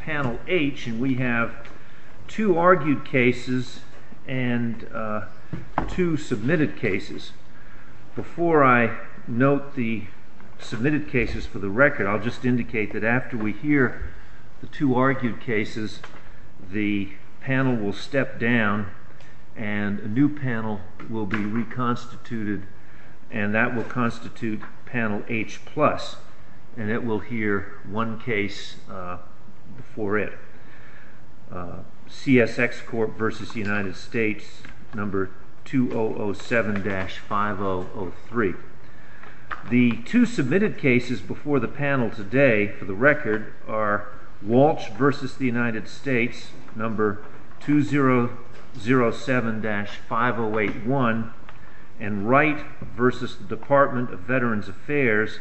Panel H and we have two argued cases and two submitted cases. Before I note the submitted cases for the record I'll just indicate that after we hear the two argued cases the panel will step down and a new panel will be reconstituted and that will constitute panel H plus and it will hear one case before it. CSX Court v. United States number 2007-5003. The two submitted cases before the panel today for the record are Walsh v. United States number 2007-5081 and Wright v. Department of Veterans Affairs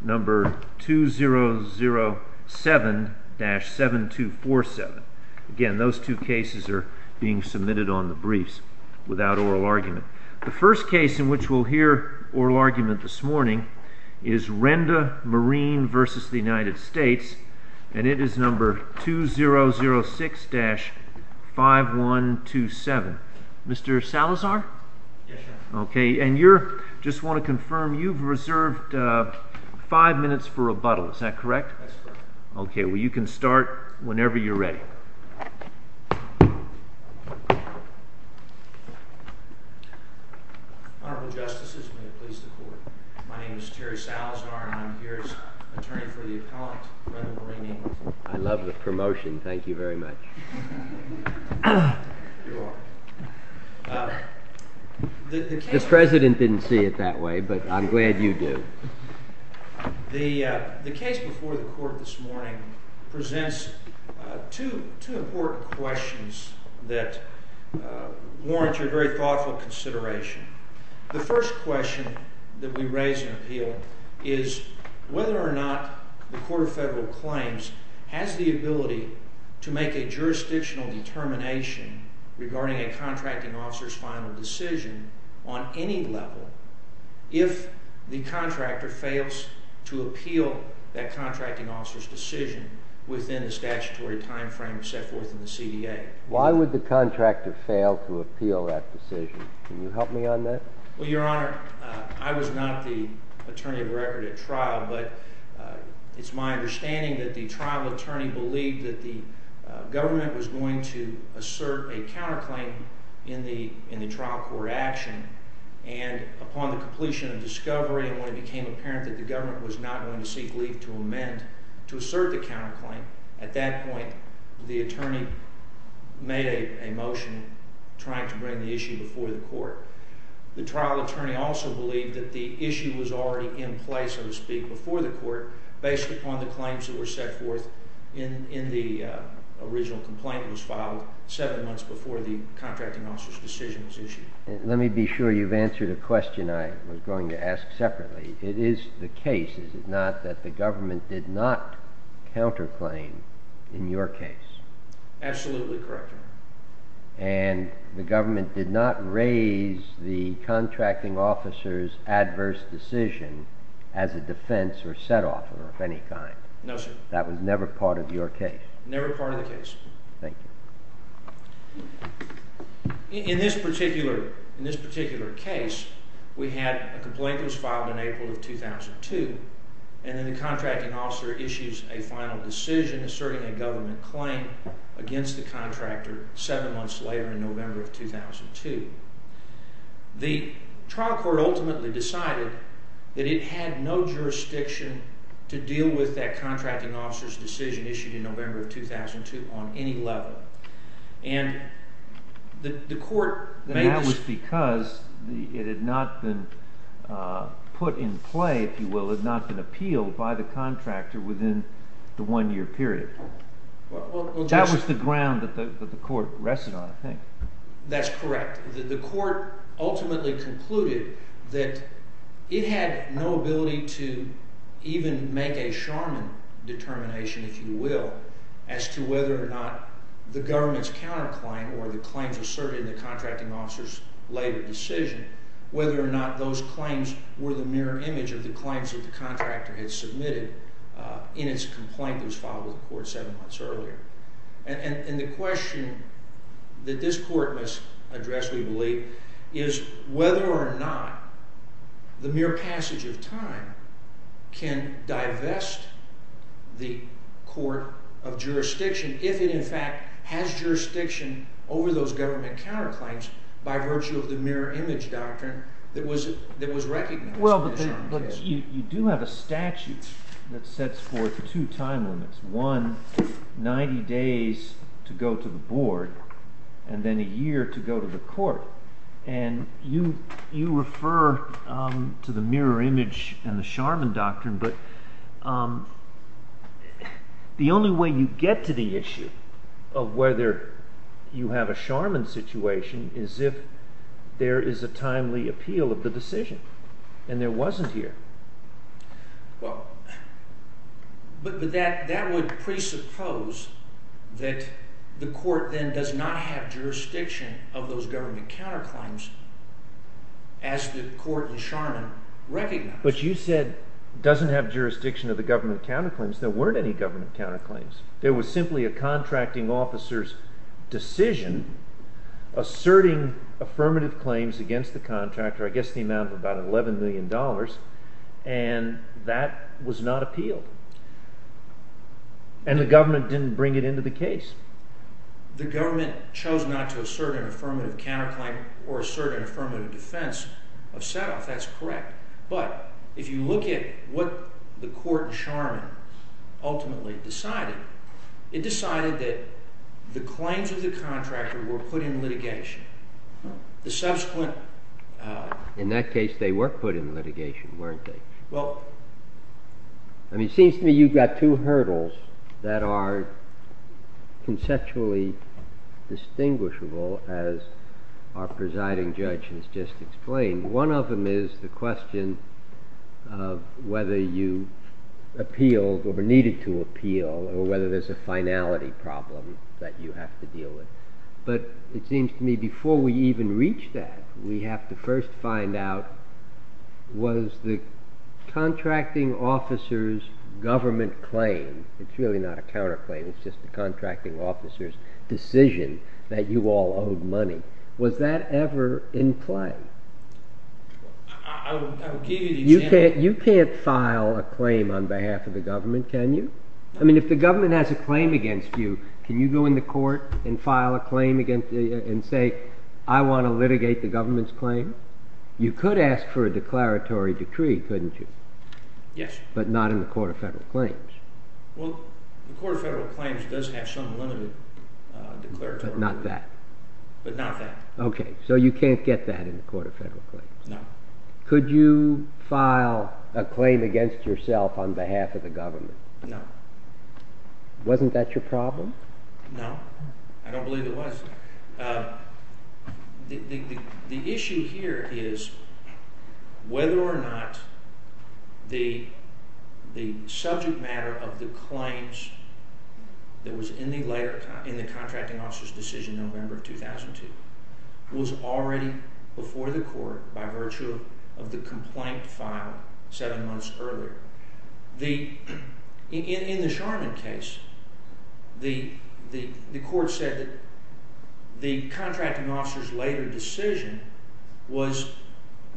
number 2007-7247. Again those two cases are being submitted on the briefs without oral argument. The first case in which we'll hear oral argument this morning is Renda Marine v. United States and it is number 006-5127. Mr. Salazar? Okay and you're just want to confirm you've reserved five minutes for rebuttal is that correct? Okay well you can start whenever you're ready. Honorable Justices may it please the court. My name is Terry Salazar and I'm here as attorney for the appellant. I love the promotion thank you very much. The president didn't see it that way but I'm glad you do. The case before the court this morning presents two important questions that warrant your very thoughtful consideration. The first question that we raise in appeal is whether or not the court of federal claims has the ability to make a jurisdictional determination regarding a contracting officer's final decision on any level if the contractor fails to appeal that contracting officer's decision within the statutory time frame set forth in the CDA. Why would the contractor fail to appeal that decision? Can you help me on that? Well your honor I was not the attorney of record at trial but it's my understanding that the trial attorney believed that the government was going to assert a counterclaim in the trial court action and upon the completion of discovery and when it became apparent that the government was not going to seek leave to amend to assert the counterclaim at that point the attorney made a motion trying to bring the issue before the court. The trial attorney also believed that the issue was already in place so to speak before the court based upon the claims that were set forth in the original complaint that was filed seven months before the contracting officer's decision was issued. Let me be sure you've answered a question I was going to ask separately. It is the case is it not that the government did not counterclaim in your case? Absolutely correct your honor. And the government did not raise the contracting officer's adverse decision as a defense or set off of any kind? No sir. That was never part of your case? Never part of the case. Thank you. In this particular case we had a complaint that was filed in April of 2002 and then the contracting officer issues a final decision asserting a government claim against the contractor seven months later in November of 2002. The trial court ultimately decided that it had no jurisdiction to deal with that contracting officer's decision issued in November of 2002 on any level. That was because it had not been put in play if you will, it had not been appealed by the contractor within the one year period. That was the ground that the court rested on I think. That's correct. The court ultimately concluded that it had no ability to even make a shaman determination if you will as to whether or not the government's counterclaim or the claims asserted in the contracting officer's later decision, whether or not those claims were the mirror image of the claims that the contractor had submitted in its complaint that was filed with the court seven months earlier. And the question that this court must address we believe is whether or not the mere passage of time can divest the court of jurisdiction if it in fact has jurisdiction over those government counterclaims by virtue of the mirror image doctrine that was recognized. Well, but you do have a statute that sets forth two time limits, one, 90 days to go to the board and then a year to go to the court. And you refer to the mirror image and the shaman doctrine, but the only way you get to the issue of whether you have a shaman situation is if there is a timely appeal of the decision. And there wasn't here. Well, but that would presuppose that the court then does not have jurisdiction of those government counterclaims as the court and shaman recognized. But you said it doesn't have jurisdiction of the government counterclaims. There weren't any government counterclaims. There was simply a contracting officer's decision asserting affirmative claims against the contractor, I guess the amount of about $11 million, and that was not appealed. And the government didn't bring it into the case. The government chose not to assert an affirmative counterclaim or assert an affirmative defense of set-off. That's correct. But if you look at what the court and shaman ultimately decided, it decided that the claims of the contractor were put in litigation. The subsequent, in that case, they were put in litigation, weren't they? Well, I mean, it seems to me you've got two hurdles that are conceptually distinguishable as our presiding judge has just explained. One of them is the question of whether you appealed or were needed to appeal or whether there's a finality problem that you have to deal with. But it seems to me before we even reach that, we have to first find out, was the contracting officer's government claim, it's really not a counterclaim, it's just a contracting officer's decision that you all owed money, was that ever in play? I will give you the example. You can't file a claim on behalf of the government, can you? I mean, if the government has a claim against you, can you go in the court and file a claim and say, I want to litigate the government's claim? You could ask for a declaratory decree, couldn't you? Yes. But not in the Court of Federal Claims. Well, the Court of Federal Claims does have some limited declaratory. But not that. But not that. Okay, so you can't get that in the Court of Federal Claims. No. Could you file a claim against yourself on behalf of the government? No. Wasn't that your problem? No, I don't believe it was. The issue here is whether or not the subject matter of the claims that was in the contracting officer's decision in November 2002 was already before the court by virtue of the complaint filed seven months earlier. In the Charman case, the court said that the contracting officer's later decision was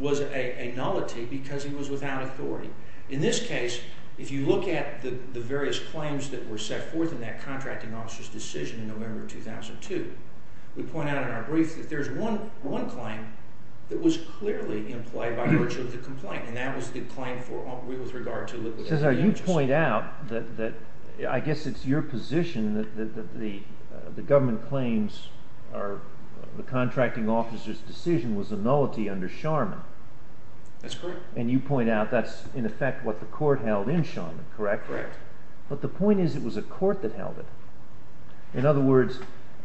a nullity because he was without authority. In this case, if you look at the various claims that were set forth in that contracting officer's decision in November 2002, we point out in our brief that there's one claim that was clearly in play by virtue of the complaint, and that was the claim with regard to liquidation. Cesar, you point out that, I guess it's your position, that the government claims the contracting officer's decision was a nullity under Charman. That's correct. And you point out that's, in effect, what the court held in Charman, correct? Correct. But the point is it was a court that held it. In other words,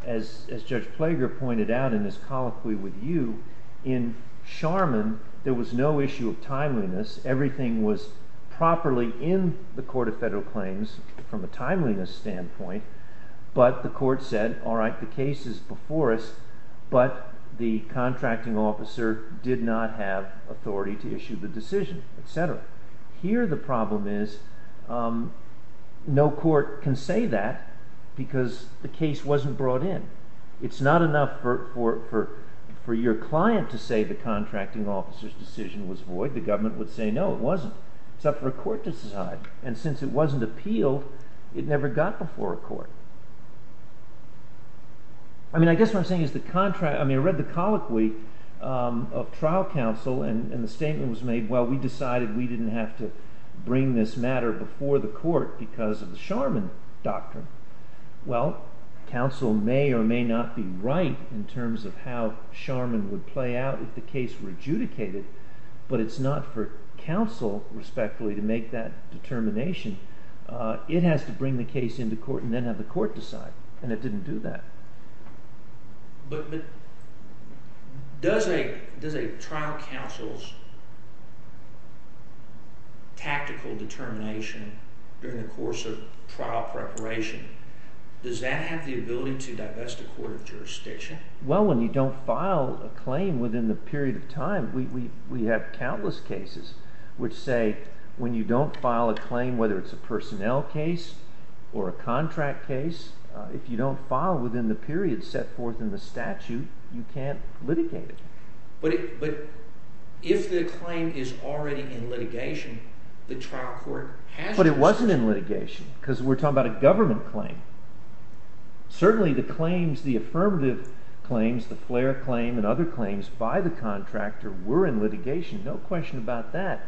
as Judge Plager pointed out in his colloquy with you, in Charman there was no issue of timeliness. Everything was properly in the Court of Federal Claims from a timeliness standpoint, but the court said, all right, the case is before us, but the contracting officer did not have authority to issue the decision, etc. Here the problem is no court can say that because the case wasn't brought in. It's not enough for your client to say the contracting officer's decision was void. The government would say, no, it wasn't, except for a court to decide, and since it wasn't appealed, it never got before a court. I mean, I guess what I'm saying is the contract, I mean, I read the colloquy of trial counsel and the statement was made, well, we decided we didn't have to bring this matter before the court because of the Charman doctrine. Well, counsel may or may not be right in terms of how Charman would play out if the case were adjudicated, but it's not for counsel, respectfully, to make that determination. It has to bring the case into court and then have the court decide, and it didn't do that. But does a trial counsel's tactical determination during the course of trial preparation, does that have the ability to divest a court of jurisdiction? Well, when you don't file a claim within the period of time, we have countless cases which say when you don't file a claim, whether it's a personnel case or a contract case, if you don't file within the period set forth in the statute, you can't litigate it. But if the claim is already in litigation, the trial court has to… the Flair claim and other claims by the contractor were in litigation, no question about that,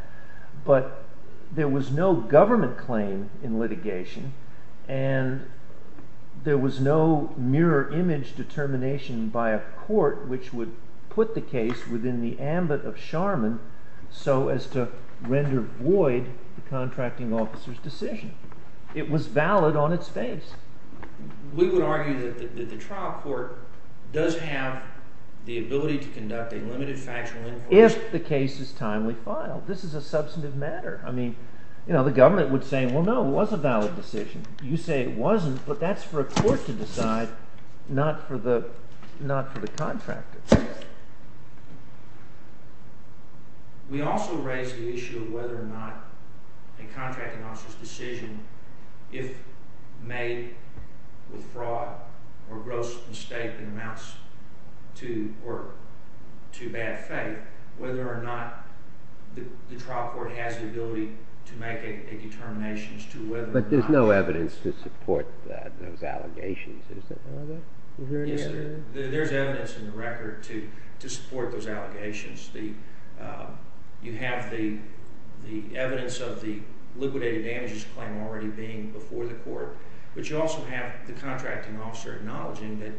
but there was no government claim in litigation and there was no mirror image determination by a court which would put the case within the ambit of Charman so as to render void the contracting officer's decision. It was valid on its face. We would argue that the trial court does have the ability to conduct a limited factual inquiry… If the case is timely filed. This is a substantive matter. I mean, you know, the government would say, well, no, it was a valid decision. You say it wasn't, but that's for a court to decide, not for the contractor. We also raise the issue of whether or not a contracting officer's decision, if made with fraud or gross mistake that amounts to bad faith, whether or not the trial court has the ability to make a determination as to whether or not… But there's no evidence to support those allegations, is there? Yes, there's evidence in the record to support those allegations. You have the evidence of the liquidated damages claim already being before the court, but you also have the contracting officer acknowledging that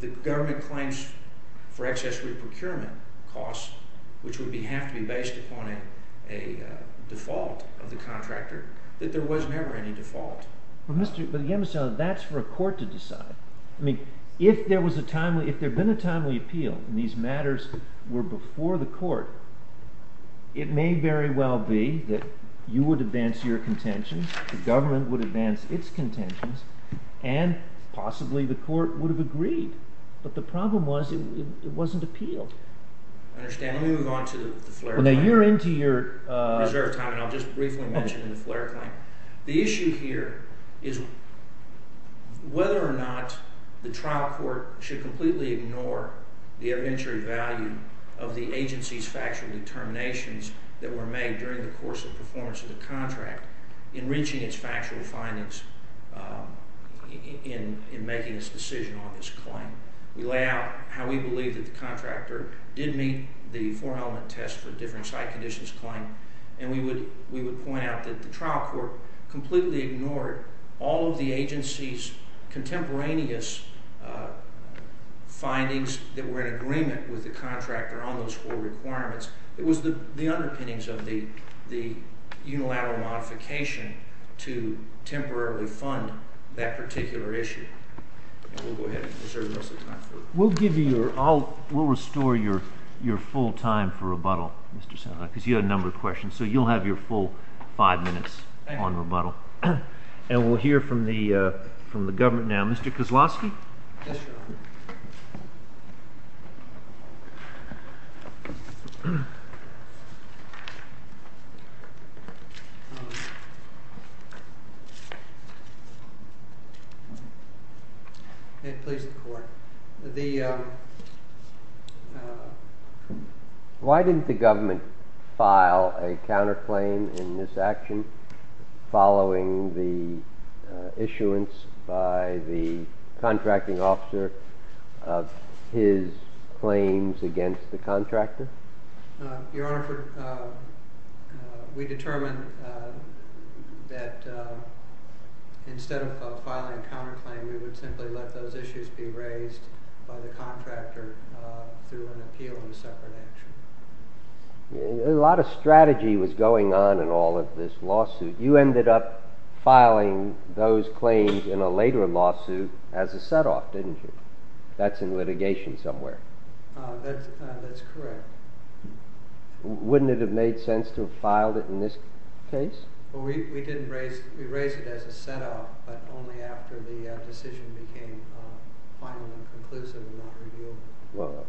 the government claims for excess reprocurement costs, which would have to be based upon a default of the contractor, that there was never any default. But again, Mr. Allen, that's for a court to decide. I mean, if there was a timely – if there had been a timely appeal and these matters were before the court, it may very well be that you would advance your contentions, the government would advance its contentions, and possibly the court would have agreed. But the problem was it wasn't appealed. I understand. Let me move on to the Flair claim. Now you're into your reserve time, and I'll just briefly mention the Flair claim. The issue here is whether or not the trial court should completely ignore the evidentiary value of the agency's factual determinations that were made during the course of performance of the contract in reaching its factual findings in making its decision on this claim. We lay out how we believe that the contractor did meet the four-element test for different site conditions claim, and we would point out that the trial court completely ignored all of the agency's contemporaneous findings that were in agreement with the contractor on those four requirements. It was the underpinnings of the unilateral modification to temporarily fund that particular issue. And we'll go ahead and reserve the rest of the time for it. We'll give you your – we'll restore your full time for rebuttal, Mr. Sandlin, because you had a number of questions. So you'll have your full five minutes on rebuttal. Thank you. And we'll hear from the government now. Mr. Kozlowski? Yes, Your Honor. May it please the Court? Why didn't the government file a counterclaim in this action following the issuance by the contracting officer of his claims against the contractor? Your Honor, we determined that instead of filing a counterclaim, we would simply let those issues be raised by the contractor through an appeal in a separate action. A lot of strategy was going on in all of this lawsuit. You ended up filing those claims in a later lawsuit as a set-off, didn't you? That's in litigation somewhere. That's correct. Wouldn't it have made sense to have filed it in this case? Well, we didn't raise – we raised it as a set-off, but only after the decision became final and conclusive and not revealed. Well,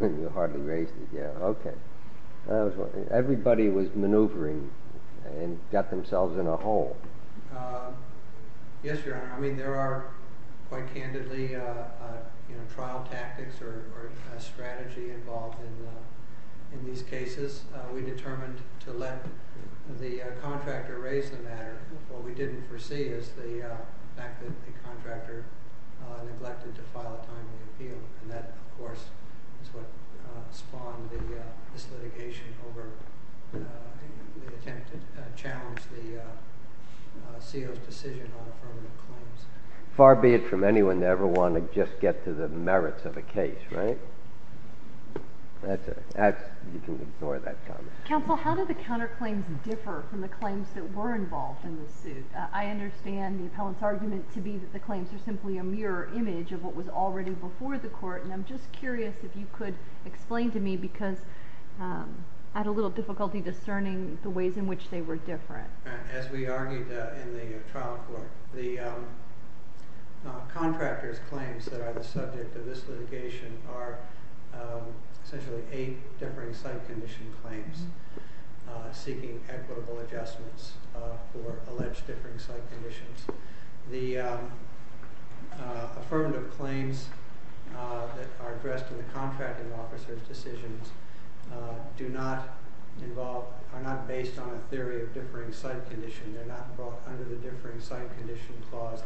you hardly raised it yet. Okay. Everybody was maneuvering and got themselves in a hole. Yes, Your Honor. I mean, there are quite candidly trial tactics or strategy involved in these cases. We determined to let the contractor raise the matter. What we didn't foresee is the fact that the contractor neglected to file a timely appeal, and that, of course, is what spawned this litigation over the attempt to challenge the CO's decision on affirmative claims. Far be it from anyone to ever want to just get to the merits of a case, right? You can ignore that comment. Counsel, how do the counterclaims differ from the claims that were involved in the suit? I understand the appellant's argument to be that the claims are simply a mirror image of what was already before the court, and I'm just curious if you could explain to me, because I had a little difficulty discerning the ways in which they were different. As we argued in the trial court, the contractor's claims that are the subject of this litigation are essentially eight differing site condition claims seeking equitable adjustments for alleged differing site conditions. The affirmative claims that are addressed in the contracting officer's decisions are not based on a theory of differing site condition. They're not brought under the differing site condition clause.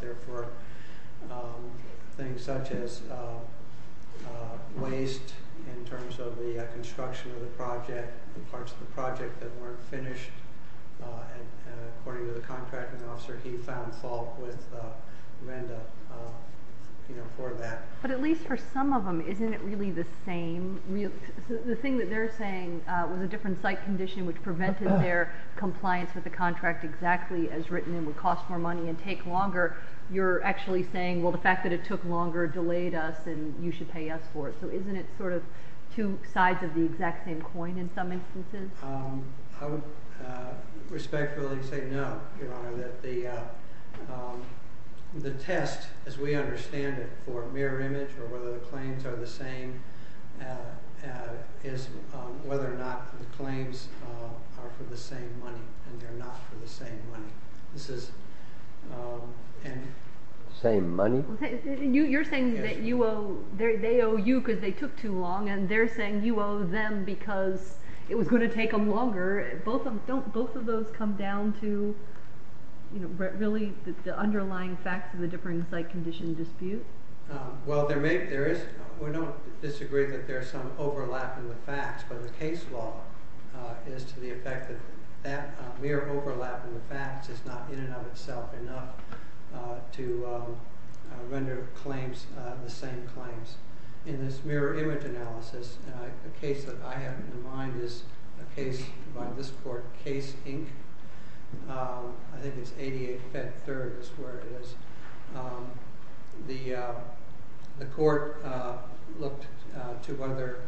But at least for some of them, isn't it really the same? The thing that they're saying was a different site condition which prevented their compliance with the contract exactly as written and would cost more money and take longer. You're actually saying, well, the fact that it took longer delayed us and you should pay us for it. So isn't it sort of two sides of the exact same coin in some instances? I would respectfully say no, Your Honor. The test, as we understand it, for mirror image or whether the claims are the same is whether or not the claims are for the same money, and they're not for the same money. Same money? You're saying that they owe you because they took too long, and they're saying you owe them because it was going to take them longer. Don't both of those come down to really the underlying facts of the differing site condition dispute? Well, we don't disagree that there's some overlap in the facts, but the case law is to the effect that that mere overlap in the facts is not in and of itself enough to render claims the same claims. In this mirror image analysis, a case that I have in mind is a case by this court, Case Inc. I think it's 88 Fed Third is where it is. The court looked to whether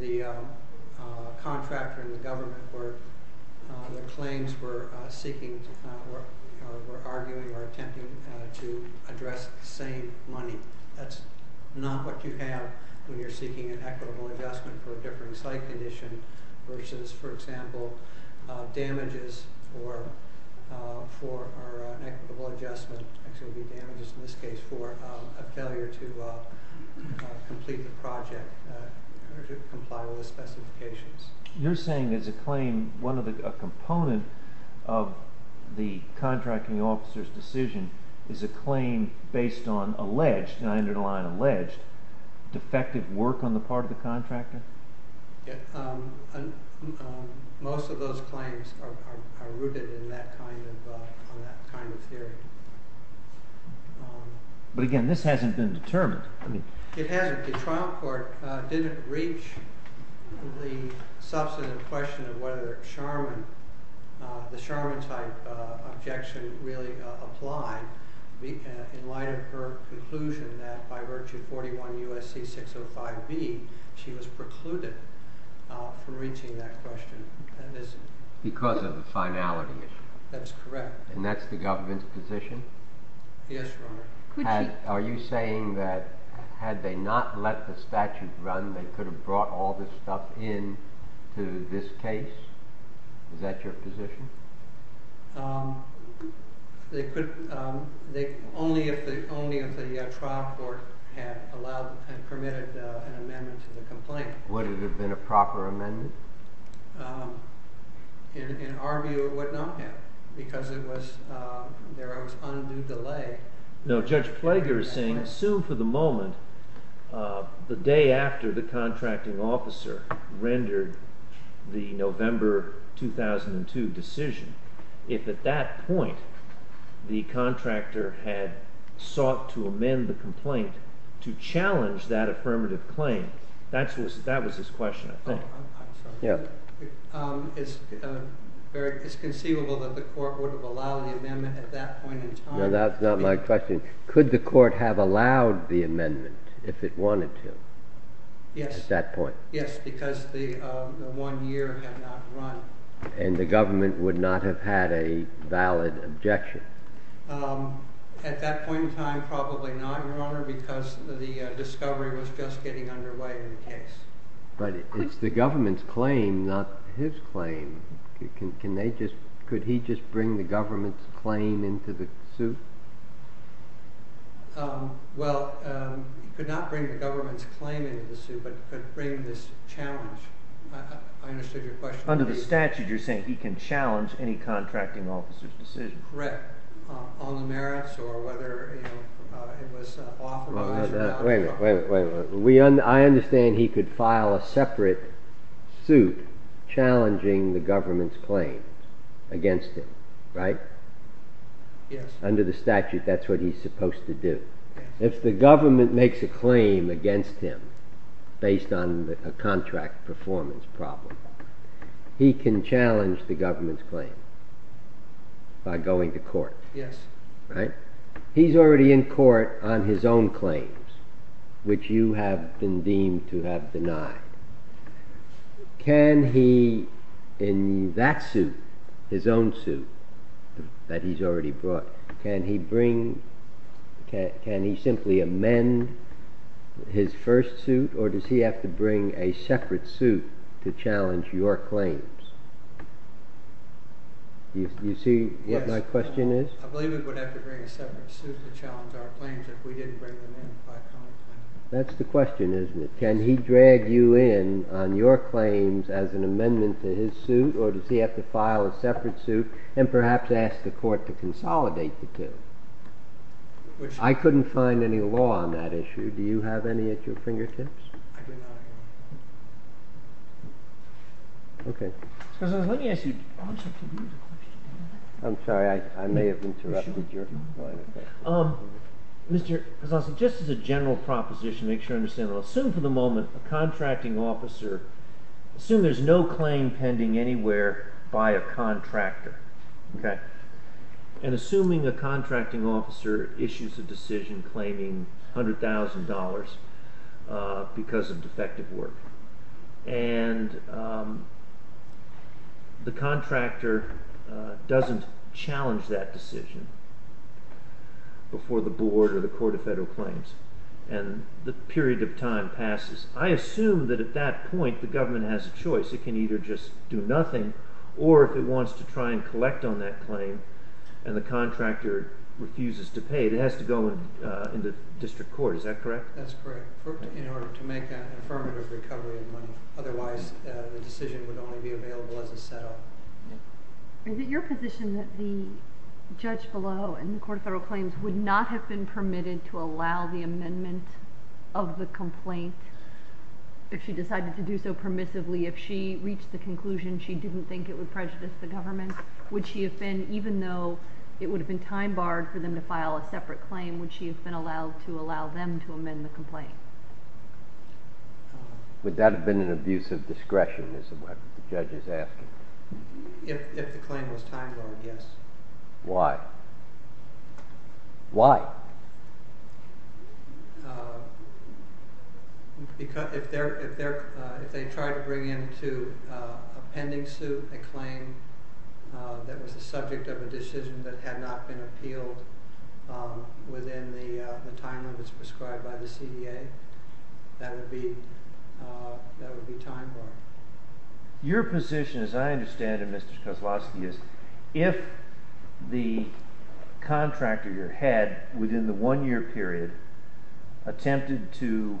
the contractor and the government were arguing or attempting to address the same money. That's not what you have when you're seeking an equitable adjustment for a differing site condition versus, for example, damages for an equitable adjustment. Actually, it would be damages in this case for a failure to complete the project or to comply with the specifications. You're saying there's a claim, a component of the contracting officer's decision is a claim based on alleged, and I underline alleged, defective work on the part of the contractor? Most of those claims are rooted in that kind of theory. But again, this hasn't been determined. It hasn't. The trial court didn't reach the substantive question of whether the Sharman type objection really applied in light of her conclusion that by virtue of 41 U.S.C. 605B, she was precluded from reaching that question. Because of the finality issue. That's correct. And that's the government's position? Yes, Your Honor. Are you saying that had they not let the statute run, they could have brought all this stuff in to this case? Is that your position? Only if the trial court had allowed and permitted an amendment to the complaint. Would it have been a proper amendment? In our view, it would not have because there was undue delay. No, Judge Flager is saying, assume for the moment the day after the contracting officer rendered the November 2002 decision, if at that point the contractor had sought to amend the complaint to challenge that affirmative claim, that was his question, I think. It's conceivable that the court would have allowed the amendment at that point in time. No, that's not my question. Could the court have allowed the amendment if it wanted to? Yes. At that point? Yes, because the one year had not run. And the government would not have had a valid objection? At that point in time, probably not, Your Honor, because the discovery was just getting underway in the case. But it's the government's claim, not his claim. Could he just bring the government's claim into the suit? Well, he could not bring the government's claim into the suit, but he could bring this challenge. I understood your question. Under the statute, you're saying he can challenge any contracting officer's decision? Correct. On the merits or whether it was authorised or not. Wait a minute. I understand he could file a separate suit challenging the government's claim against him, right? Yes. Under the statute, that's what he's supposed to do. If the government makes a claim against him based on a contract performance problem, he can challenge the government's claim by going to court. Yes. He's already in court on his own claims, which you have been deemed to have denied. Can he, in that suit, his own suit that he's already brought, can he simply amend his first suit or does he have to bring a separate suit to challenge your claims? Do you see what my question is? I believe he would have to bring a separate suit to challenge our claims if we didn't bring them in. That's the question, isn't it? Can he drag you in on your claims as an amendment to his suit or does he have to file a separate suit and perhaps ask the court to consolidate the two? I couldn't find any law on that issue. Do you have any at your fingertips? I do not, Your Honor. OK. Let me ask you a question. I'm sorry, I may have interrupted your line of questioning. Mr. Casalsky, just as a general proposition, make sure I understand it. Assume for the moment a contracting officer, assume there's no claim pending anywhere by a contractor, OK? And assuming a contracting officer issues a decision claiming $100,000 because of defective work and the contractor doesn't challenge that decision before the board or the Court of Federal Claims and the period of time passes, I assume that at that point the government has a choice. It can either just do nothing or if it wants to try and collect on that claim and the contractor refuses to pay, it has to go into district court. Is that correct? That's correct. In order to make an affirmative recovery in money. Otherwise, the decision would only be available as a set-up. Is it your position that the judge below in the Court of Federal Claims would not have been permitted to allow the amendment of the complaint if she decided to do so permissively, if she reached the conclusion she didn't think it would prejudice the government? Would she have been, even though it would have been time-barred for them to file a separate claim, would she have been allowed to allow them to amend the complaint? Would that have been an abuse of discretion, is what the judge is asking? If the claim was time-barred, yes. Why? Why? If they try to bring into a pending suit a claim that was the subject of a decision that had not been appealed within the time limits prescribed by the CDA, that would be time-barred. Your position, as I understand it, Mr. Kozlowski, is if the contractor you had within the one-year period attempted to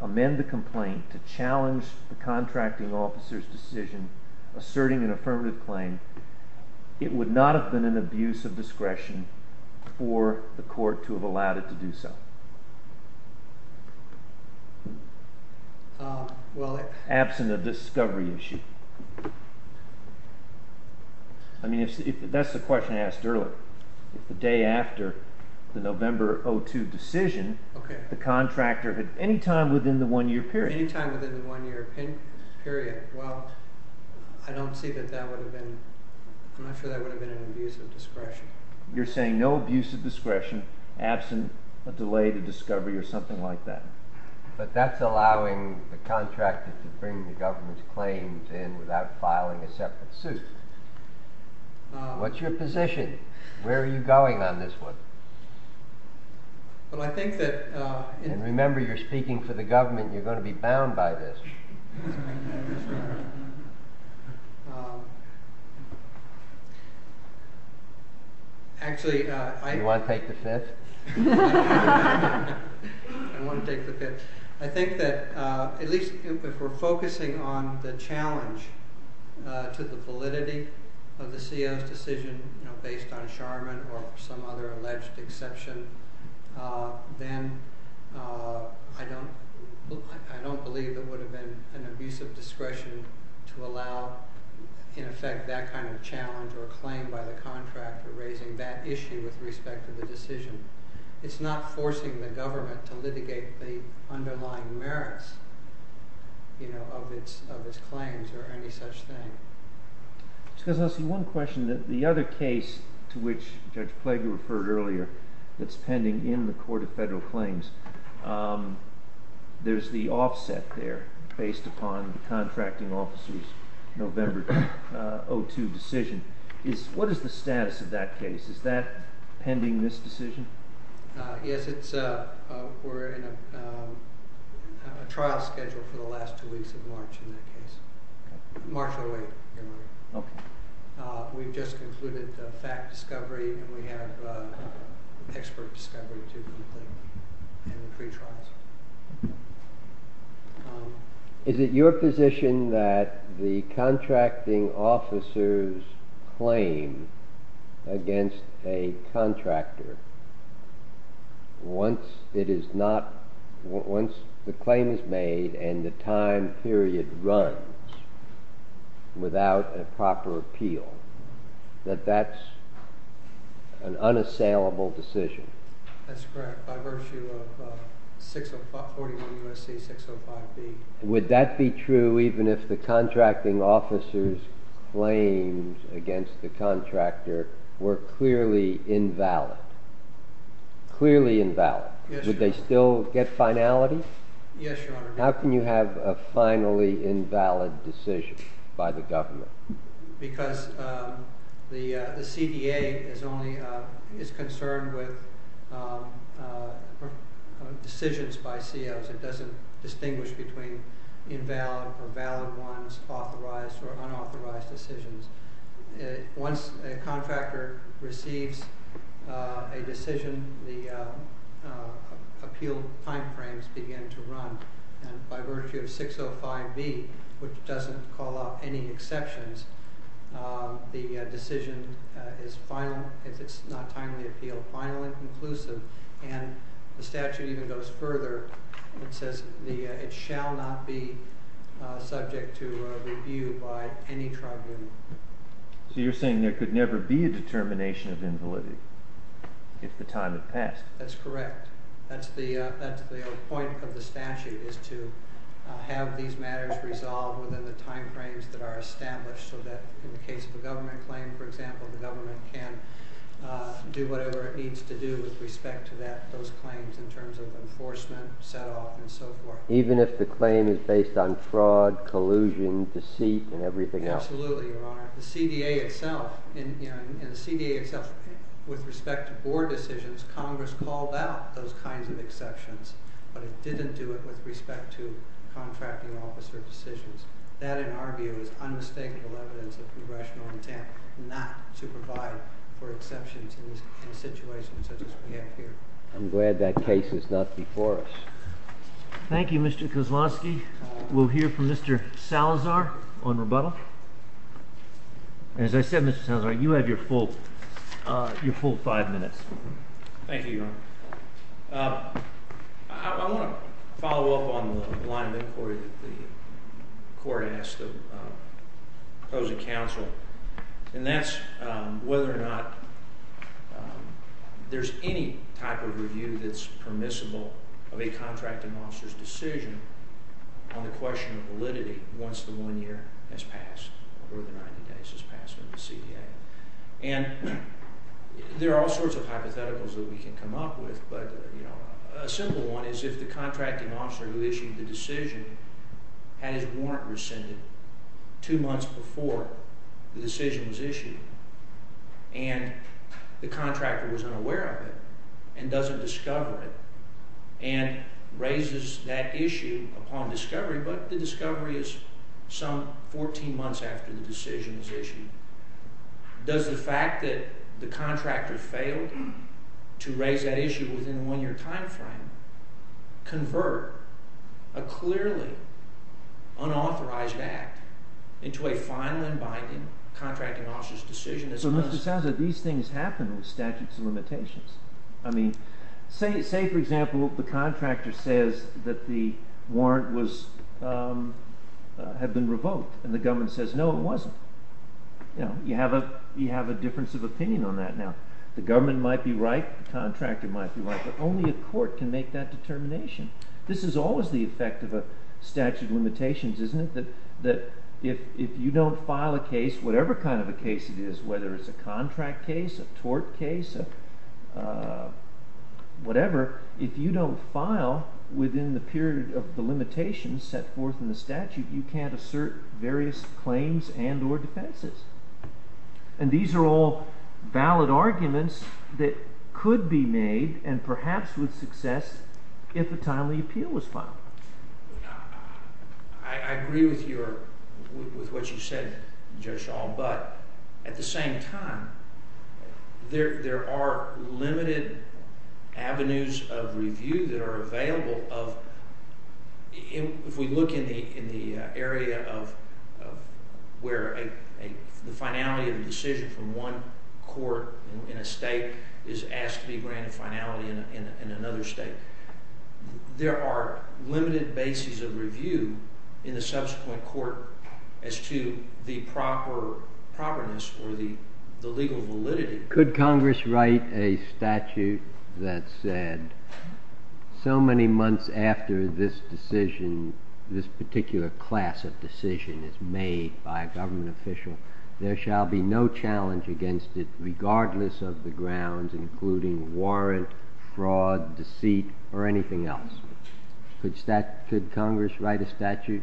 amend the complaint to challenge the contracting officer's decision asserting an affirmative claim, it would not have been an abuse of discretion for the court to have allowed it to do so. Absent a discovery issue. I mean, that's the question I asked earlier. If the day after the November 2002 decision, the contractor had any time within the one-year period. Any time within the one-year period. Well, I don't see that that would have been, I'm not sure that would have been an abuse of discretion. You're saying no abuse of discretion, absent a delay to discovery or something like that. But that's allowing the contractor to bring the government's claims in without filing a separate suit. What's your position? Where are you going on this one? Well, I think that… And remember, you're speaking for the government. You're going to be bound by this. Actually, I… You want to take the fifth? I want to take the fifth. I think that at least if we're focusing on the challenge to the validity of the CO's decision based on Charman or some other alleged exception, then I don't believe it would have been an abuse of discretion to allow, in effect, that kind of challenge or claim by the contractor raising that issue with respect to the decision. It's not forcing the government to litigate the underlying merits of its claims or any such thing. Just because I see one question that the other case to which Judge Plager referred earlier that's pending in the Court of Federal Claims, there's the offset there based upon the contracting officer's November 2002 decision. What is the status of that case? Is that pending this decision? Yes, it's… We're in a trial schedule for the last two weeks of March in that case. March or the week. Okay. We've just concluded the fact discovery and we have expert discovery to complete and pretrials. Is it your position that the contracting officer's claim against a contractor, once the claim is made and the time period runs without a proper appeal, that that's an unassailable decision? That's correct, by virtue of 41 U.S.C. 605B. Would that be true even if the contracting officer's claims against the contractor were clearly invalid? Clearly invalid. Yes, Your Honor. Would they still get finality? Yes, Your Honor. How can you have a finally invalid decision by the government? Because the CDA is concerned with decisions by COs. It doesn't distinguish between invalid or valid ones, authorized or unauthorized decisions. Once a contractor receives a decision, the appeal timeframes begin to run. And by virtue of 605B, which doesn't call out any exceptions, the decision is finally, if it's not timely appeal, finally conclusive. And the statute even goes further and says it shall not be subject to review by any tribunal. So you're saying there could never be a determination of invalidity if the time had passed? That's correct. That's the point of the statute, is to have these matters resolved within the timeframes that are established so that in the case of a government claim, for example, the government can do whatever it needs to do with respect to those claims in terms of enforcement, set off, and so forth. Even if the claim is based on fraud, collusion, deceit, and everything else? Absolutely, Your Honor. The CDA itself, with respect to board decisions, Congress called out those kinds of exceptions. But it didn't do it with respect to contracting officer decisions. That, in our view, is unmistakable evidence of congressional intent not to provide for exceptions in a situation such as we have here. I'm glad that case is not before us. Thank you, Mr. Kozlowski. We'll hear from Mr. Salazar on rebuttal. As I said, Mr. Salazar, you have your full five minutes. I want to follow up on the line of inquiry that the court asked the opposing counsel. And that's whether or not there's any type of review that's permissible of a contracting officer's decision on the question of validity once the one year has passed or the 90 days has passed under the CDA. And there are all sorts of hypotheticals that we can come up with. But a simple one is if the contracting officer who issued the decision had his warrant rescinded two months before the decision was issued. And the contractor was unaware of it and doesn't discover it and raises that issue upon discovery. But the discovery is some 14 months after the decision is issued. Does the fact that the contractor failed to raise that issue within the one year time frame convert a clearly unauthorized act into a final and binding contracting officer's decision? So, Mr. Salazar, these things happen with statutes of limitations. Say, for example, the contractor says that the warrant had been revoked. And the government says, no, it wasn't. You have a difference of opinion on that now. The government might be right. The contractor might be right. But only a court can make that determination. This is always the effect of a statute of limitations, isn't it? That if you don't file a case, whatever kind of a case it is, whether it's a contract case, a tort case, whatever, if you don't file within the period of the limitations set forth in the statute, you can't assert various claims and or defenses. And these are all valid arguments that could be made and perhaps with success if a timely appeal was filed. I agree with what you said, Judge Shaw. Could Congress write a statute that said, so many months after this decision, this particular class of decision is made by a government official, there shall be no challenge against it regardless of the grounds, including warrant, fraud, deceit, or anything else? Could Congress write a statute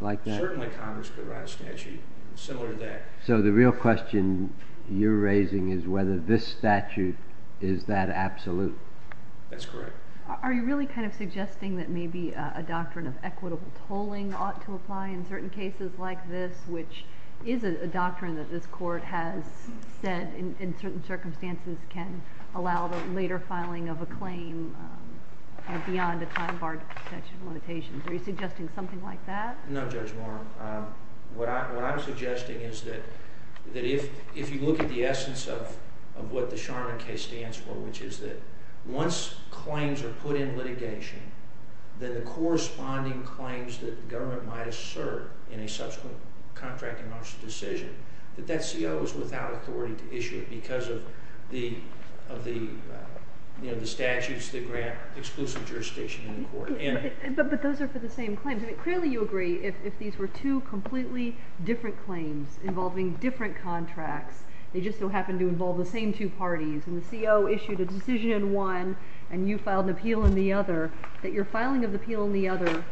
like that? Certainly Congress could write a statute similar to that. So the real question you're raising is whether this statute is that absolute. That's correct. Are you really kind of suggesting that maybe a doctrine of equitable tolling ought to apply in certain cases like this, which is a doctrine that this court has said in certain circumstances can allow the later filing of a claim beyond a time barred statute of limitations? Are you suggesting something like that? No, Judge Moore. What I'm suggesting is that if you look at the essence of what the Sharman case stands for, which is that once claims are put in litigation, then the corresponding claims that the government might assert in a subsequent contract and martial decision, that that CO is without authority to issue it because of the statutes that grant exclusive jurisdiction in court. But those are for the same claims. Clearly you agree if these were two completely different claims involving different contracts, they just so happen to involve the same two parties, and the CO issued a decision in one and you filed an appeal in the other, that your filing of the appeal in the other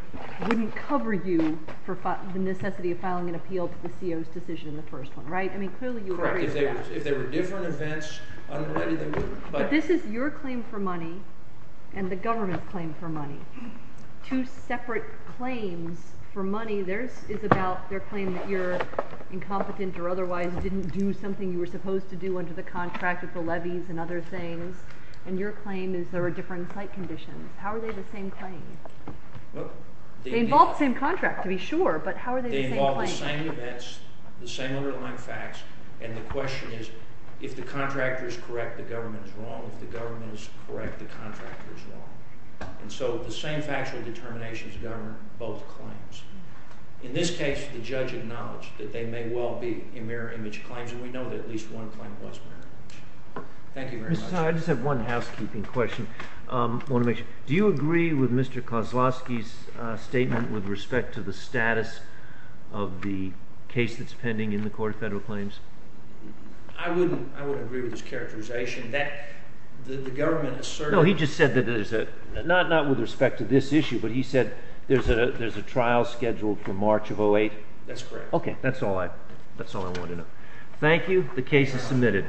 wouldn't cover you for the necessity of filing an appeal to the CO's decision in the first one, right? Correct. If they were different events, I don't know why they wouldn't. But this is your claim for money and the government's claim for money. Two separate claims for money. Theirs is about their claim that you're incompetent or otherwise didn't do something you were supposed to do under the contract with the levies and other things. And your claim is there were different site conditions. How are they the same claim? Well, they involve the same contract to be sure, but how are they the same claim? They involve the same events, the same underlying facts, and the question is if the contractor is correct, the government is wrong. If the government is correct, the contractor is wrong. And so the same factual determinations govern both claims. In this case, the judge acknowledged that they may well be mirror image claims, and we know that at least one claim was mirror image. Thank you very much. I just have one housekeeping question. Do you agree with Mr. Kozlowski's statement with respect to the status of the case that's pending in the court of federal claims? I wouldn't. I wouldn't agree with his characterization that the government asserts. No, he just said that there's a not not with respect to this issue, but he said there's a there's a trial scheduled for March of 08. That's correct. OK, that's all I that's all I want to know. Thank you. The case is submitted.